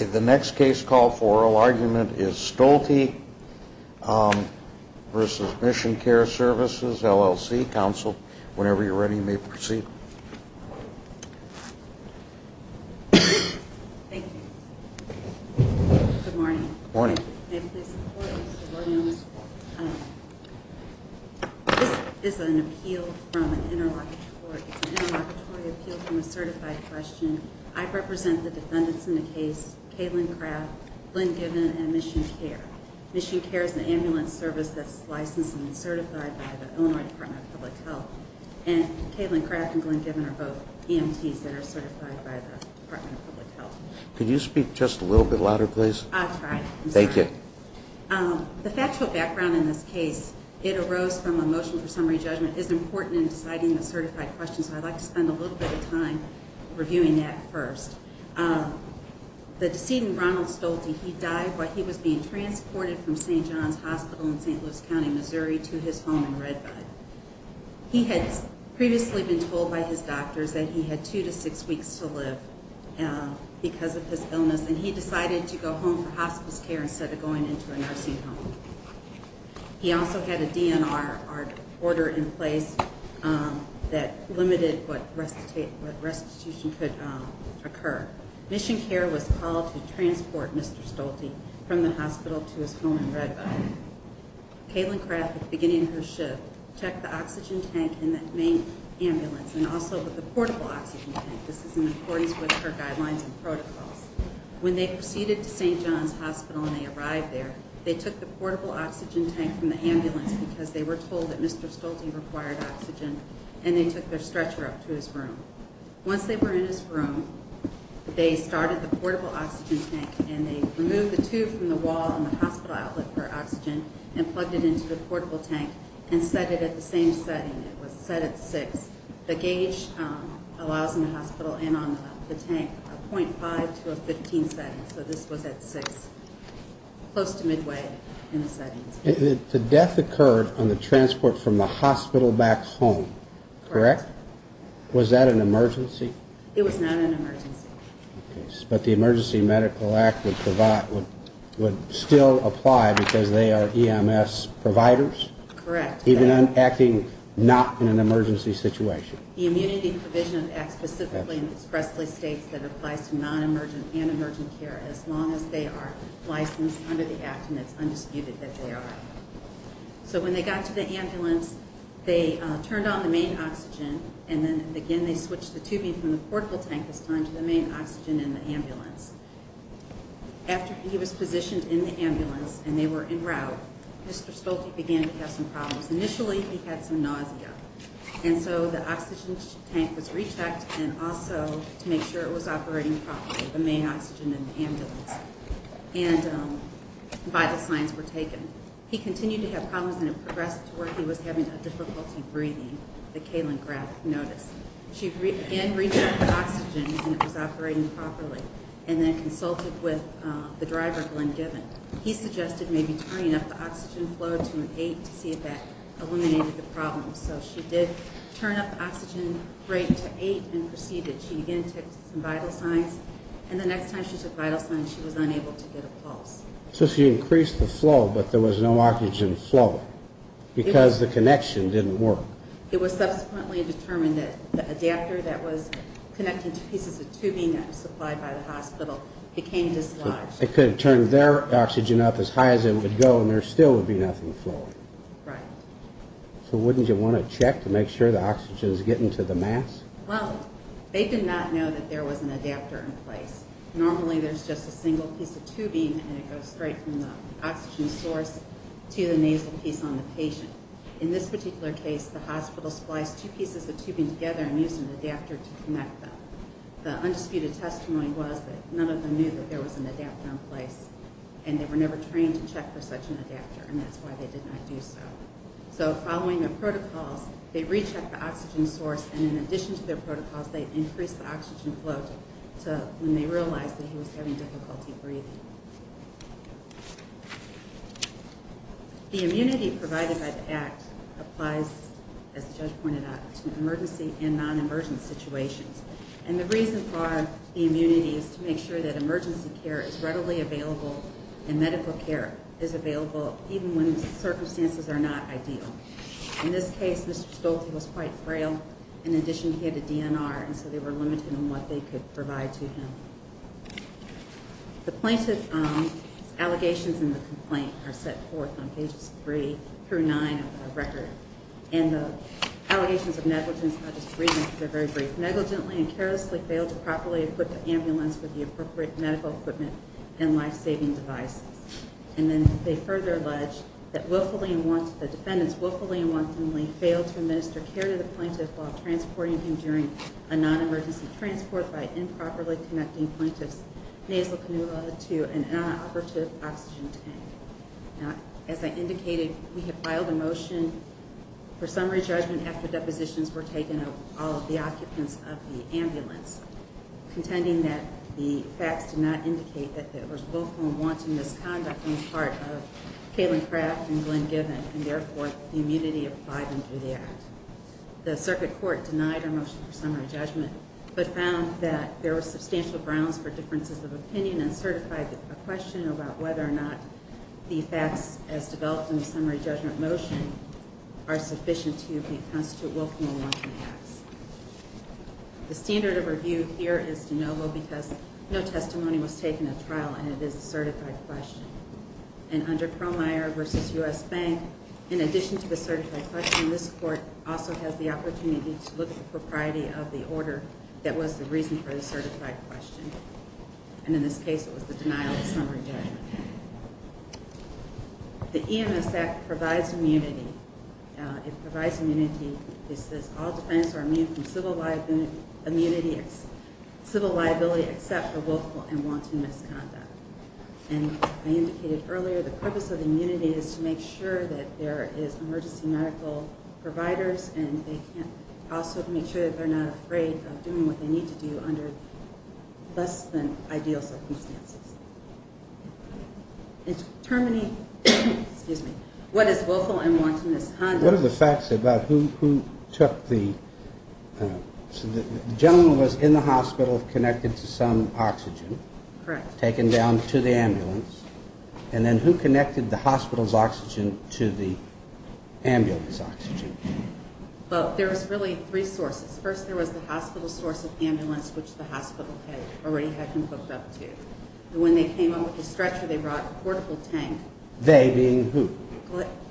The next case call for oral argument is Stolte v. Mission Care Services, LLC. Counsel, whenever you're ready, may proceed. Thank you. Good morning. Good morning. May I please have the floor? Good morning. This is an appeal from an interlocutory. It's an interlocutory appeal from a certified question. I represent the defendants in the case, Katelyn Kraft, Glenn Given, and Mission Care. Mission Care is an ambulance service that's licensed and certified by the Illinois Department of Public Health. And Katelyn Kraft and Glenn Given are both EMTs that are certified by the Department of Public Health. Could you speak just a little bit louder, please? I'll try. Thank you. The factual background in this case, it arose from a motion for summary judgment. It's important in deciding a certified question, so I'd like to spend a little bit of time reviewing that first. The decedent, Ronald Stolte, he died while he was being transported from St. John's Hospital in St. Louis County, Missouri, to his home in Redbud. He had previously been told by his doctors that he had two to six weeks to live because of his illness, and he decided to go home for hospice care instead of going into a nursing home. He also had a DNR order in place that limited what restitution could occur. Mission Care was called to transport Mr. Stolte from the hospital to his home in Redbud. Katelyn Kraft, at the beginning of her shift, checked the oxygen tank in the main ambulance and also with the portable oxygen tank. This is in accordance with her guidelines and protocols. When they proceeded to St. John's Hospital and they arrived there, they took the portable oxygen tank from the ambulance because they were told that Mr. Stolte required oxygen, and they took their stretcher up to his room. Once they were in his room, they started the portable oxygen tank, and they removed the tube from the wall in the hospital outlet for oxygen and plugged it into the portable tank and set it at the same setting. It was set at six. The gauge allows in the hospital and on the tank a .5 to a 15 setting, so this was at six, close to midway in the settings. The death occurred on the transport from the hospital back home, correct? Correct. Was that an emergency? It was not an emergency. But the Emergency Medical Act would still apply because they are EMS providers? Correct. Even on acting not in an emergency situation? The Immunity Provision Act specifically and expressly states that it applies to non-emergent and emergent care as long as they are licensed under the Act, and it's undisputed that they are. So when they got to the ambulance, they turned on the main oxygen, and then again they switched the tubing from the portable tank this time to the main oxygen in the ambulance. After he was positioned in the ambulance and they were en route, Mr. Stolte began to have some problems. Initially he had some nausea, and so the oxygen tank was rechecked and also to make sure it was operating properly, the main oxygen in the ambulance. And vital signs were taken. He continued to have problems and it progressed to where he was having difficulty breathing, the Kalen-Graf notice. She again rechecked the oxygen and it was operating properly. And then consulted with the driver, Glenn Given. He suggested maybe turning up the oxygen flow to an eight to see if that eliminated the problem. So she did turn up the oxygen rate to eight and proceeded. She again took some vital signs, and the next time she took vital signs, she was unable to get a pulse. So she increased the flow, but there was no oxygen flow because the connection didn't work. It was subsequently determined that the adapter that was connecting two pieces of tubing that were supplied by the hospital became dislodged. It could have turned their oxygen up as high as it would go and there still would be nothing flowing. Right. So wouldn't you want to check to make sure the oxygen is getting to the mass? Well, they did not know that there was an adapter in place. Normally there's just a single piece of tubing and it goes straight from the oxygen source to the nasal piece on the patient. In this particular case, the hospital spliced two pieces of tubing together and used an adapter to connect them. The undisputed testimony was that none of them knew that there was an adapter in place, and they were never trained to check for such an adapter, and that's why they did not do so. So following the protocols, they rechecked the oxygen source, and in addition to their protocols, they increased the oxygen flow when they realized that he was having difficulty breathing. The immunity provided by the Act applies, as the judge pointed out, to emergency and non-emergent situations. And the reason for the immunity is to make sure that emergency care is readily available and medical care is available even when circumstances are not ideal. In this case, Mr. Stolte was quite frail. In addition, he had a DNR, and so they were limited in what they could provide to him. The plaintiff's allegations in the complaint are set forth on pages 3 through 9 of the record. And the allegations of negligence, I'll just read them because they're very brief. Negligently and carelessly failed to properly equip the ambulance with the appropriate medical equipment and life-saving devices. And then they further allege that the defendants willfully and wantonly failed to administer care to the plaintiff while transporting him during a non-emergency transport by improperly connecting the plaintiff's nasal canula to an inoperative oxygen tank. As I indicated, we have filed a motion for summary judgment after depositions were taken of all of the occupants of the ambulance, contending that the facts do not indicate that there was willful and wanton misconduct on the part of Kaylin Craft and Glenn Given, and therefore the immunity applied under the Act. The circuit court denied our motion for summary judgment, but found that there were substantial grounds for differences of opinion and certified a question about whether or not the facts as developed in the summary judgment motion are sufficient to constitute willful and wanton acts. The standard of review here is de novo because no testimony was taken at trial and it is a certified question. And under Perlmire v. U.S. Bank, in addition to the certified question, this court also has the opportunity to look at the propriety of the order that was the reason for the certified question. And in this case, it was the denial of summary judgment. The EMS Act provides immunity. It provides immunity. It says all defendants are immune from civil liability except for willful and wanton misconduct. And I indicated earlier the purpose of immunity is to make sure that there is access to emergency medical providers, and also to make sure that they're not afraid of doing what they need to do under less than ideal circumstances. It's determining what is willful and wanton misconduct. One of the facts about who took the gentleman was in the hospital connected to some oxygen. Correct. Taken down to the ambulance. And then who connected the hospital's oxygen to the ambulance oxygen? Well, there was really three sources. First, there was the hospital's source of ambulance, which the hospital had already had him hooked up to. And when they came up with the stretcher, they brought a portable tank. They being who?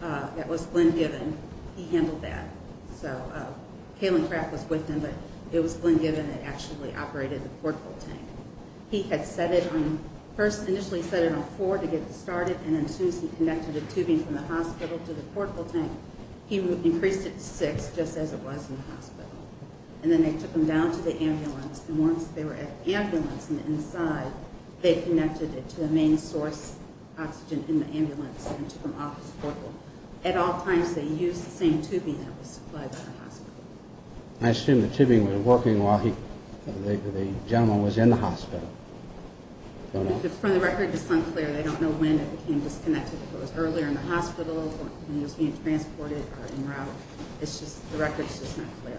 That was Glenn Given. He handled that. So Kaylin Kraft was with him, but it was Glenn Given that actually operated the portable tank. He had set it on first initially set it on four to get it started, and then as soon as he connected the tubing from the hospital to the portable tank, he increased it to six just as it was in the hospital. And then they took him down to the ambulance, and once they were at the ambulance on the inside, they connected it to the main source oxygen in the ambulance and took him off his portable. I assume the tubing was working while the gentleman was in the hospital. From the record, it's unclear. They don't know when it became disconnected. If it was earlier in the hospital when he was being transported or en route. The record's just not clear.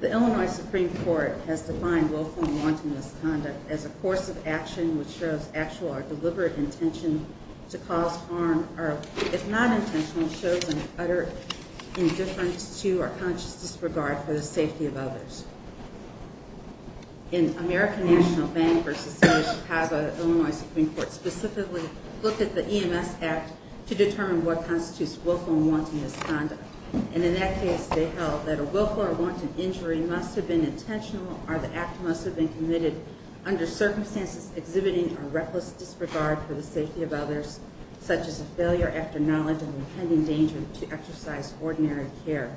The Illinois Supreme Court has defined willful and wanton misconduct as a course of action which shows actual or deliberate intention to cause harm or if not intentional, shows an utter indifference to or conscious disregard for the safety of others. In American National Bank v. City of Chicago, Illinois Supreme Court specifically looked at the EMS Act to determine what constitutes willful and wanton misconduct. And in that case, they held that a willful or wanton injury must have been intentional or the act must have been committed under circumstances exhibiting a reckless disregard for the safety of others such as a failure after knowledge and impending danger to exercise ordinary care.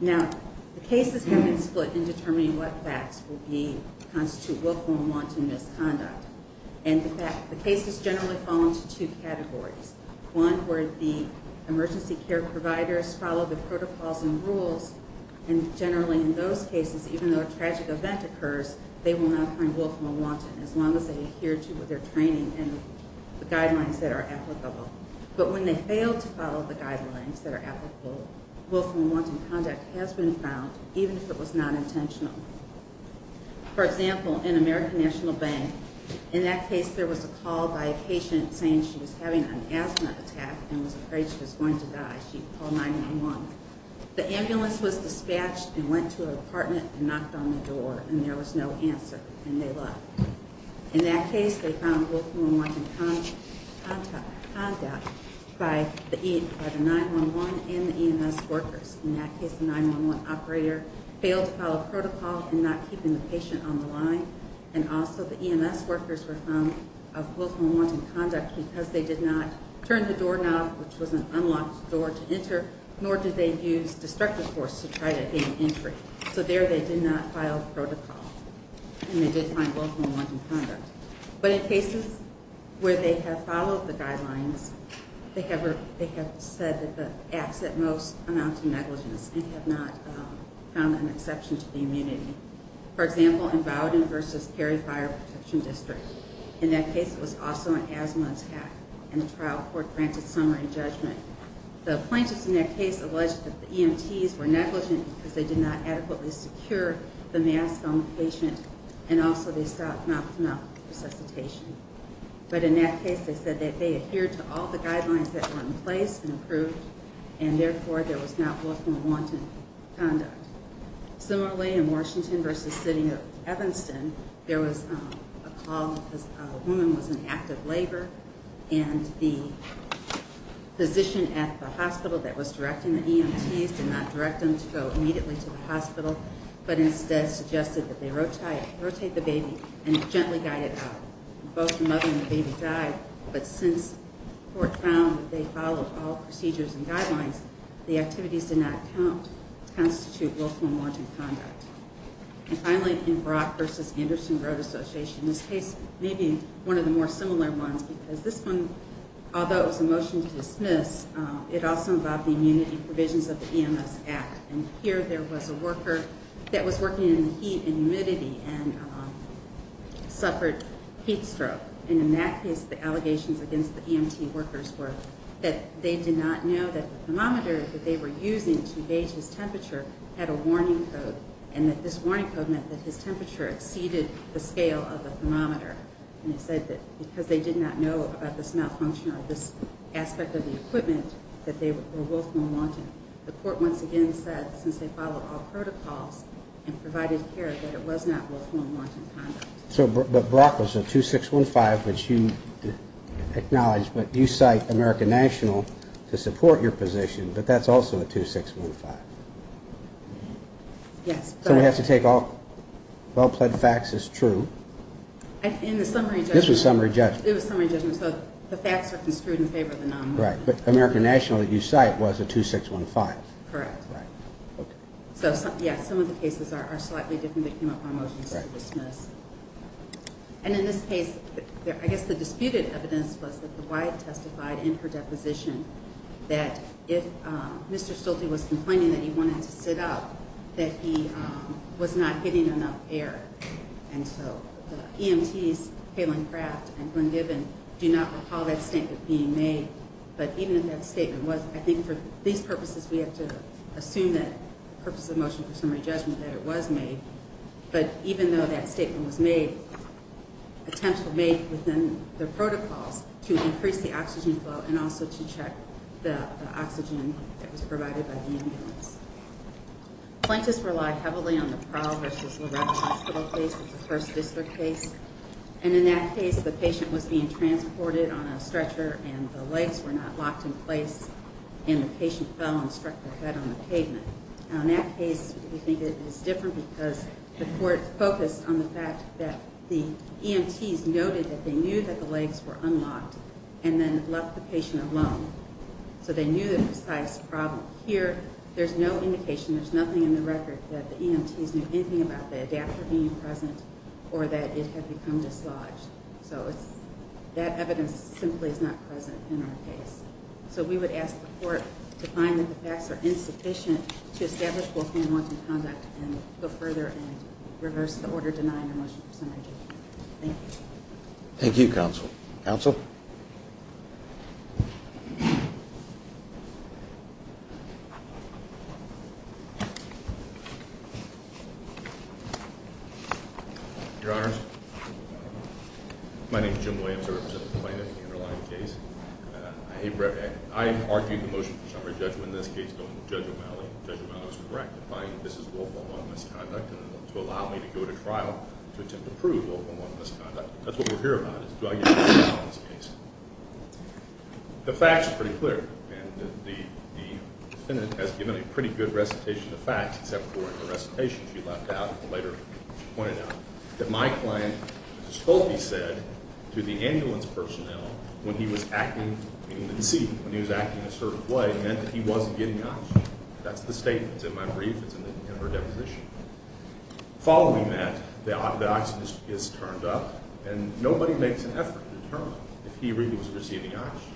Now, the cases have been split in determining what facts will constitute willful and wanton misconduct. And the cases generally fall into two categories. One where the emergency care providers follow the protocols and rules and generally in those cases, even though a tragic event occurs, they will not find willful and wanton as long as they adhere to their training and the guidelines that are applicable. But when they fail to follow the guidelines that are applicable, willful and wanton conduct has been found even if it was not intentional. For example, in American National Bank, in that case, there was a call by a patient saying she was having an asthma attack and was afraid she was going to die. She called 911. The ambulance was dispatched and went to her apartment and knocked on the door and there was no answer and they left. In that case, they found willful and wanton conduct by the 911 and the EMS workers. In that case, the 911 operator failed to follow protocol in not keeping the patient on the line. And also the EMS workers were found of willful and wanton conduct because they did not turn the doorknob, which was an unlocked door to enter, nor did they use destructive force to try to gain entry. So there they did not file protocol. And they did find willful and wanton conduct. But in cases where they have followed the guidelines, they have said that the acts that most amount to negligence and have not found an exception to the immunity. For example, in Bowdoin versus Cary Fire Protection District. In that case, it was also an asthma attack and the trial court granted summary judgment. The plaintiffs in that case alleged that the EMTs were negligent because they did not adequately secure the mask on the patient and also they stopped mouth-to-mouth resuscitation. But in that case, they said that they adhered to all the guidelines that were in place and approved, and therefore there was not willful and wanton conduct. Similarly, in Washington versus the city of Evanston, there was a call that a woman was in active labor and the physician at the hospital that was directing the EMTs did not direct them to go immediately to the hospital, but instead suggested that they rotate the baby and gently guide it out. Both the mother and the baby died, but since court found that they followed all procedures and guidelines, the activities did not constitute willful and wanton conduct. And finally, in Brock versus Anderson Road Association, this case may be one of the more similar ones because this one, although it was a motion to dismiss, it also involved the immunity provisions of the EMS Act. And here there was a worker that was working in the heat and humidity and suffered heat stroke. And in that case, the allegations against the EMT workers were that they did not know that the thermometer that they were using to gauge his temperature had a warning code and that this warning code meant that his temperature exceeded the scale of the thermometer. And it said that because they did not know about this malfunction or this aspect of the equipment, that they were willful and wanton. The court once again said, since they followed all protocols and provided care, that it was not willful and wanton conduct. But Brock was a 2615, which you acknowledge, but you cite American National to support your position, but that's also a 2615. Yes. So we have to take all well-pleaded facts as true. In the summary judgment. This was summary judgment. It was summary judgment. So the facts are construed in favor of the nominee. Right. But American National, you cite, was a 2615. Correct. Right. Okay. So, yes, some of the cases are slightly different. They came up on motions to dismiss. And in this case, I guess the disputed evidence was that the wife testified in her deposition that if Mr. Stolte was complaining that he wanted to sit up, that he was not getting enough air. And so the EMTs, Kaylin Craft and Glenn Gibbon, do not recall that statement being made. But even if that statement was, I think for these purposes, we have to assume that the purpose of the motion for summary judgment, that it was made. But even though that statement was made, attempts were made within the protocols to increase the oxygen flow and also to check the oxygen that was provided by the ambulance. Plaintiffs relied heavily on the Prowl versus Loretta Hospital case. It's a First District case. And in that case, the patient was being transported on a stretcher and the legs were not locked in place, and the patient fell and struck their head on the pavement. Now, in that case, we think it is different because the court focused on the fact that the EMTs noted that they knew that the legs were unlocked and then left the patient alone. So they knew the precise problem. Here, there's no indication, there's nothing in the record, that the EMTs knew anything about the adapter being present or that it had become dislodged. So that evidence simply is not present in our case. So we would ask the court to find that the facts are insufficient to establish what we want in conduct and go further and reverse the order denying a motion for summary judgment. Thank you. Thank you, counsel. Counsel? Your Honors, my name is Jim Williams. I represent the plaintiff in the underlying case. I argued the motion for summary judgment in this case going to Judge O'Malley. Judge O'Malley was correct in finding that this is local law misconduct and to allow me to go to trial to attempt to prove local law misconduct. That's what we're here about is do I get to go to trial in this case. The facts are pretty clear. And the defendant has given a pretty good recitation of facts, except for in the recitation she left out and later pointed out, that my client, Ms. Fulte, said to the ambulance personnel when he was acting in the seat, when he was acting in a certain way, meant that he wasn't getting oxygen. That's the statement. It's in my brief. It's in her deposition. Following that, the oxygen is turned up, and nobody makes an effort to determine if he really was receiving oxygen.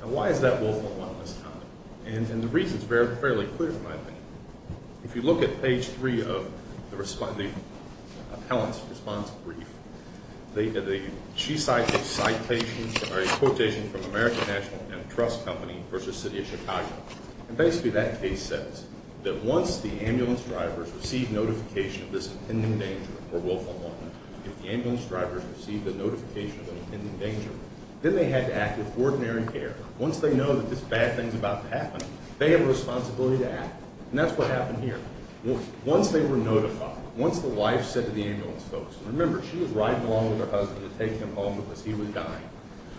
Now, why is that willful and lawless conduct? And the reason is fairly clear, in my opinion. If you look at page 3 of the appellant's response brief, she cites a citation or a quotation from American National Antitrust Company versus City of Chicago. And basically that case says that once the ambulance drivers received notification of this impending danger or willful and lawless conduct, if the ambulance drivers received a notification of an impending danger, then they had to act with ordinary care. Once they know that this bad thing is about to happen, they have a responsibility to act. And that's what happened here. Once they were notified, once the wife said to the ambulance folks, and remember, she was riding along with her husband to take him home because he was dying,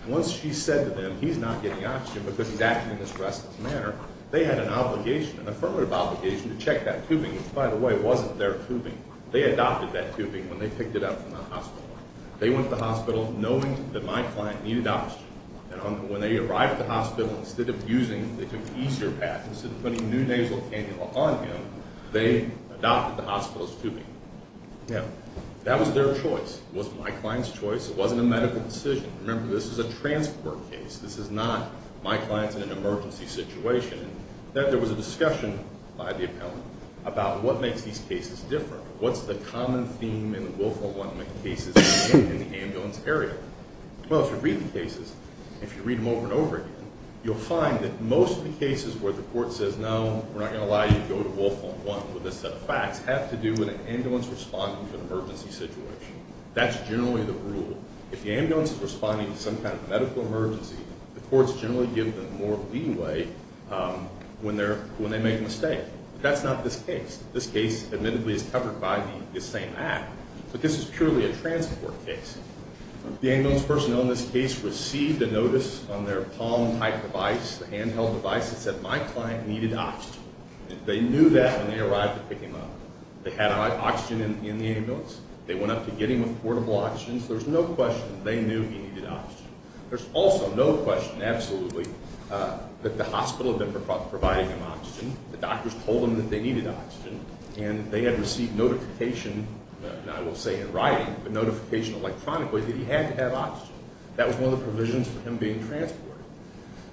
once she said to them, he's not getting oxygen because he's acting in this restless manner, they had an obligation, an affirmative obligation to check that tubing, which, by the way, wasn't their tubing. They adopted that tubing when they picked it up from the hospital. They went to the hospital knowing that my client needed oxygen. And when they arrived at the hospital, instead of using, they took an easier path, instead of putting new nasal cannula on him, they adopted the hospital's tubing. Now, that was their choice. It wasn't my client's choice. It wasn't a medical decision. Remember, this is a transport case. This is not my client's in an emergency situation. There was a discussion by the appellant about what makes these cases different. What's the common theme in the Wolfhound 1 cases in the ambulance area? Well, if you read the cases, if you read them over and over again, you'll find that most of the cases where the court says, no, we're not going to allow you to go to Wolfhound 1 with this set of facts, have to do with an ambulance responding to an emergency situation. That's generally the rule. If the ambulance is responding to some kind of medical emergency, the courts generally give them more leeway when they make a mistake. That's not this case. This case, admittedly, is covered by this same app. But this is purely a transport case. The ambulance personnel in this case received a notice on their palm-type device, the handheld device, that said, my client needed oxygen. They knew that when they arrived to pick him up. They had oxygen in the ambulance. They went up to get him with portable oxygen, so there's no question they knew he needed oxygen. There's also no question, absolutely, that the hospital had been providing him oxygen. The doctors told them that they needed oxygen, and they had received notification, I will say in writing, but notification electronically that he had to have oxygen. That was one of the provisions for him being transported.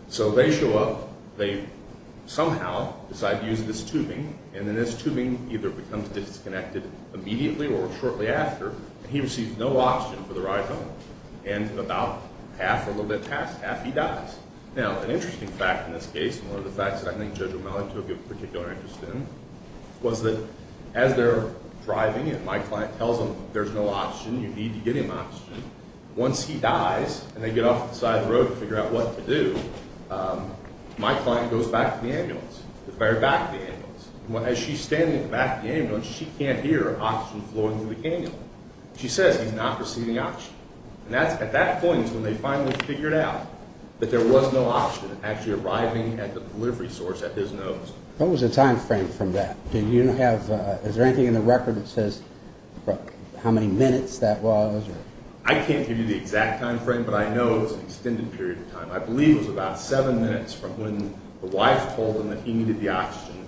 So they show up. They somehow decide to use this tubing, and then this tubing either becomes disconnected immediately or shortly after, and he receives no oxygen for the ride home. And about half, a little bit past half, he dies. Now, an interesting fact in this case, and one of the facts that I think Judge O'Malley took a particular interest in, was that as they're driving and my client tells them there's no oxygen, you need to get him oxygen, once he dies, and they get off to the side of the road to figure out what to do, my client goes back to the ambulance. As she's standing at the back of the ambulance, she can't hear oxygen flowing through the cannula. She says he's not receiving oxygen. At that point is when they finally figured out that there was no oxygen actually arriving at the delivery source at his nose. What was the time frame from that? Is there anything in the record that says how many minutes that was? I can't give you the exact time frame, but I know it was an extended period of time. I believe it was about seven minutes from when the wife told him that he needed the oxygen.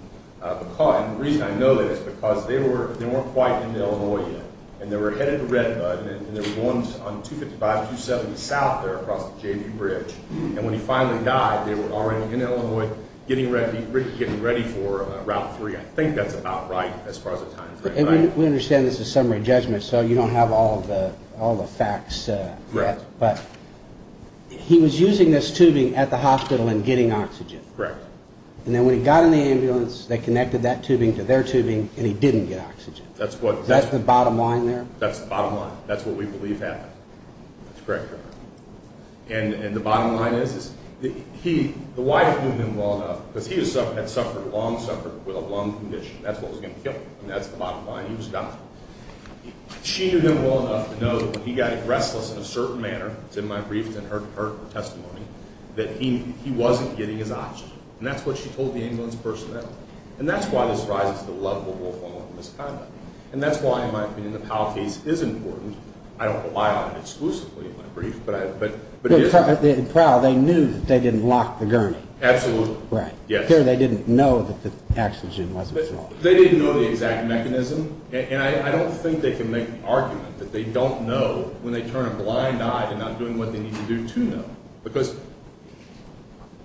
And the reason I know that is because they weren't quite in Illinois yet, and they were headed to Redbud, and they were going on 255-270 south there across the JV Bridge. And when he finally died, they were already in Illinois getting ready for Route 3. I think that's about right as far as the time frame. We understand this is summary judgment, so you don't have all the facts. Right. But he was using this tubing at the hospital and getting oxygen. Correct. And then when he got in the ambulance, they connected that tubing to their tubing, and he didn't get oxygen. That's the bottom line there? That's the bottom line. That's what we believe happened. That's correct. And the bottom line is the wife knew him well enough, because he had suffered a long suffering with a lung condition. That's what was going to kill him, and that's the bottom line. He was dying. She knew him well enough to know that when he got restless in a certain manner, it's in my briefs and her testimony, that he wasn't getting his oxygen. And that's what she told the ambulance personnel. And that's why this rises to the level of wolf hormone misconduct. And that's why, in my opinion, the Powell case is important. I don't rely on it exclusively in my brief, but it is. In Powell, they knew that they didn't lock the gurney. Absolutely. Right. Here they didn't know that the oxygen wasn't flowing. They didn't know the exact mechanism, and I don't think they can make the argument that they don't know when they turn a blind eye to not doing what they need to do to know. Because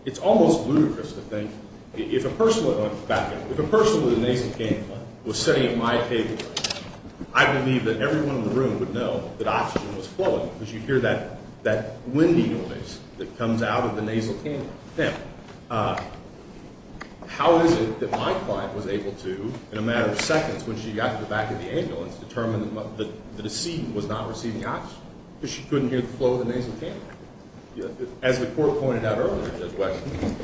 it's almost ludicrous to think if a person with a nasal ganglion was sitting at my table, I believe that everyone in the room would know that oxygen was flowing because you'd hear that windy noise that comes out of the nasal ganglion. Now, how is it that my client was able to, in a matter of seconds, when she got to the back of the ambulance, determine that the decedent was not receiving oxygen because she couldn't hear the flow of the nasal ganglion? As the court pointed out earlier, Judge Wesson,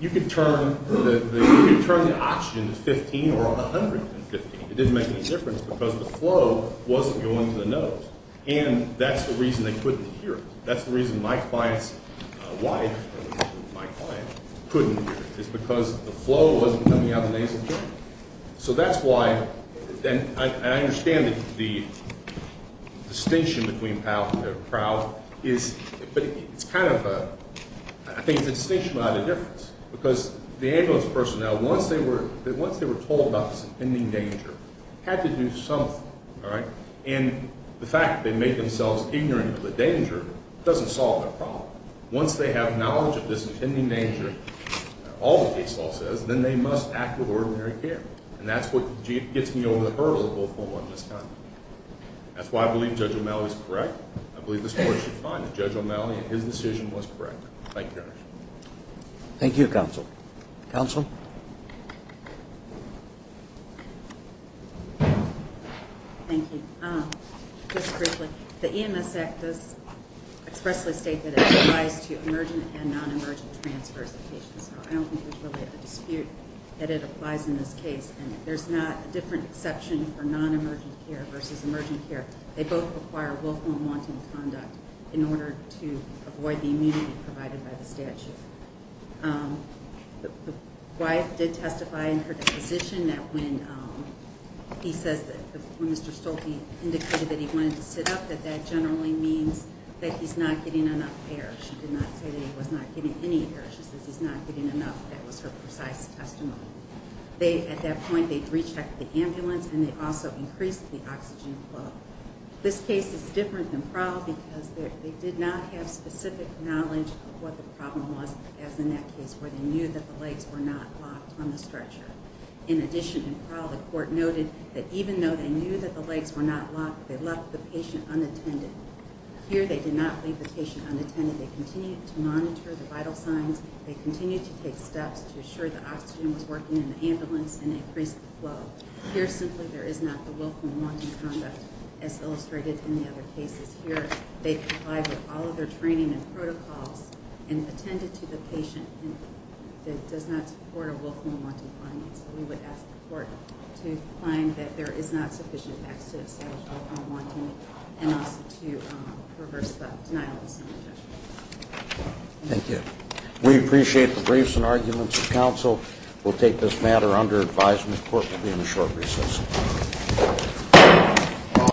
you could turn the oxygen to 15 or 100. It didn't make any difference because the flow wasn't going to the nose, and that's the reason they couldn't hear it. That's the reason my client's wife, my client, couldn't hear it, is because the flow wasn't coming out of the nasal ganglion. So that's why, and I understand the distinction between Powell and Crowell, but I think it's a distinction without a difference, because the ambulance personnel, once they were told about this impending danger, had to do something, all right? And the fact that they made themselves ignorant of the danger doesn't solve their problem. Once they have knowledge of this impending danger, all the case law says, then they must act with ordinary care. And that's what gets me over the hurdle of a full-blown misconduct. That's why I believe Judge O'Malley is correct. I believe this court should find that Judge O'Malley and his decision was correct. Thank you, Your Honor. Thank you, Counsel. Counsel? Thank you. Just briefly, the EMS Act does expressly state that it applies to emergent and non-emergent transfers of patients, so I don't think there's really a dispute that it applies in this case. And there's not a different exception for non-emergent care versus emergent care. They both require willful and wanton conduct in order to avoid the immunity provided by the statute. Wyeth did testify in her deposition that when he says, when Mr. Stolte indicated that he wanted to sit up, that that generally means that he's not getting enough air. She did not say that he was not getting any air. She says he's not getting enough. That was her precise testimony. At that point, they rechecked the ambulance, and they also increased the oxygen flow. This case is different than Prowl because they did not have specific knowledge of what the problem was, as in that case where they knew that the legs were not locked on the stretcher. In addition, in Prowl, the court noted that even though they knew that the legs were not locked, they left the patient unattended. Here, they did not leave the patient unattended. They continued to monitor the vital signs. They continued to take steps to assure that oxygen was working in the ambulance and increase the flow. Here, simply, there is not the willful and wanton conduct as illustrated in the other cases. Here, they complied with all of their training and protocols and attended to the patient that does not support a willful and wanton conduct. We would ask the court to find that there is not sufficient access to establish willful and wanton, and also to reverse the denial of some of the judgments. Thank you. We appreciate the briefs and arguments of counsel. We will take this matter under advisement. The court will be in a short recess.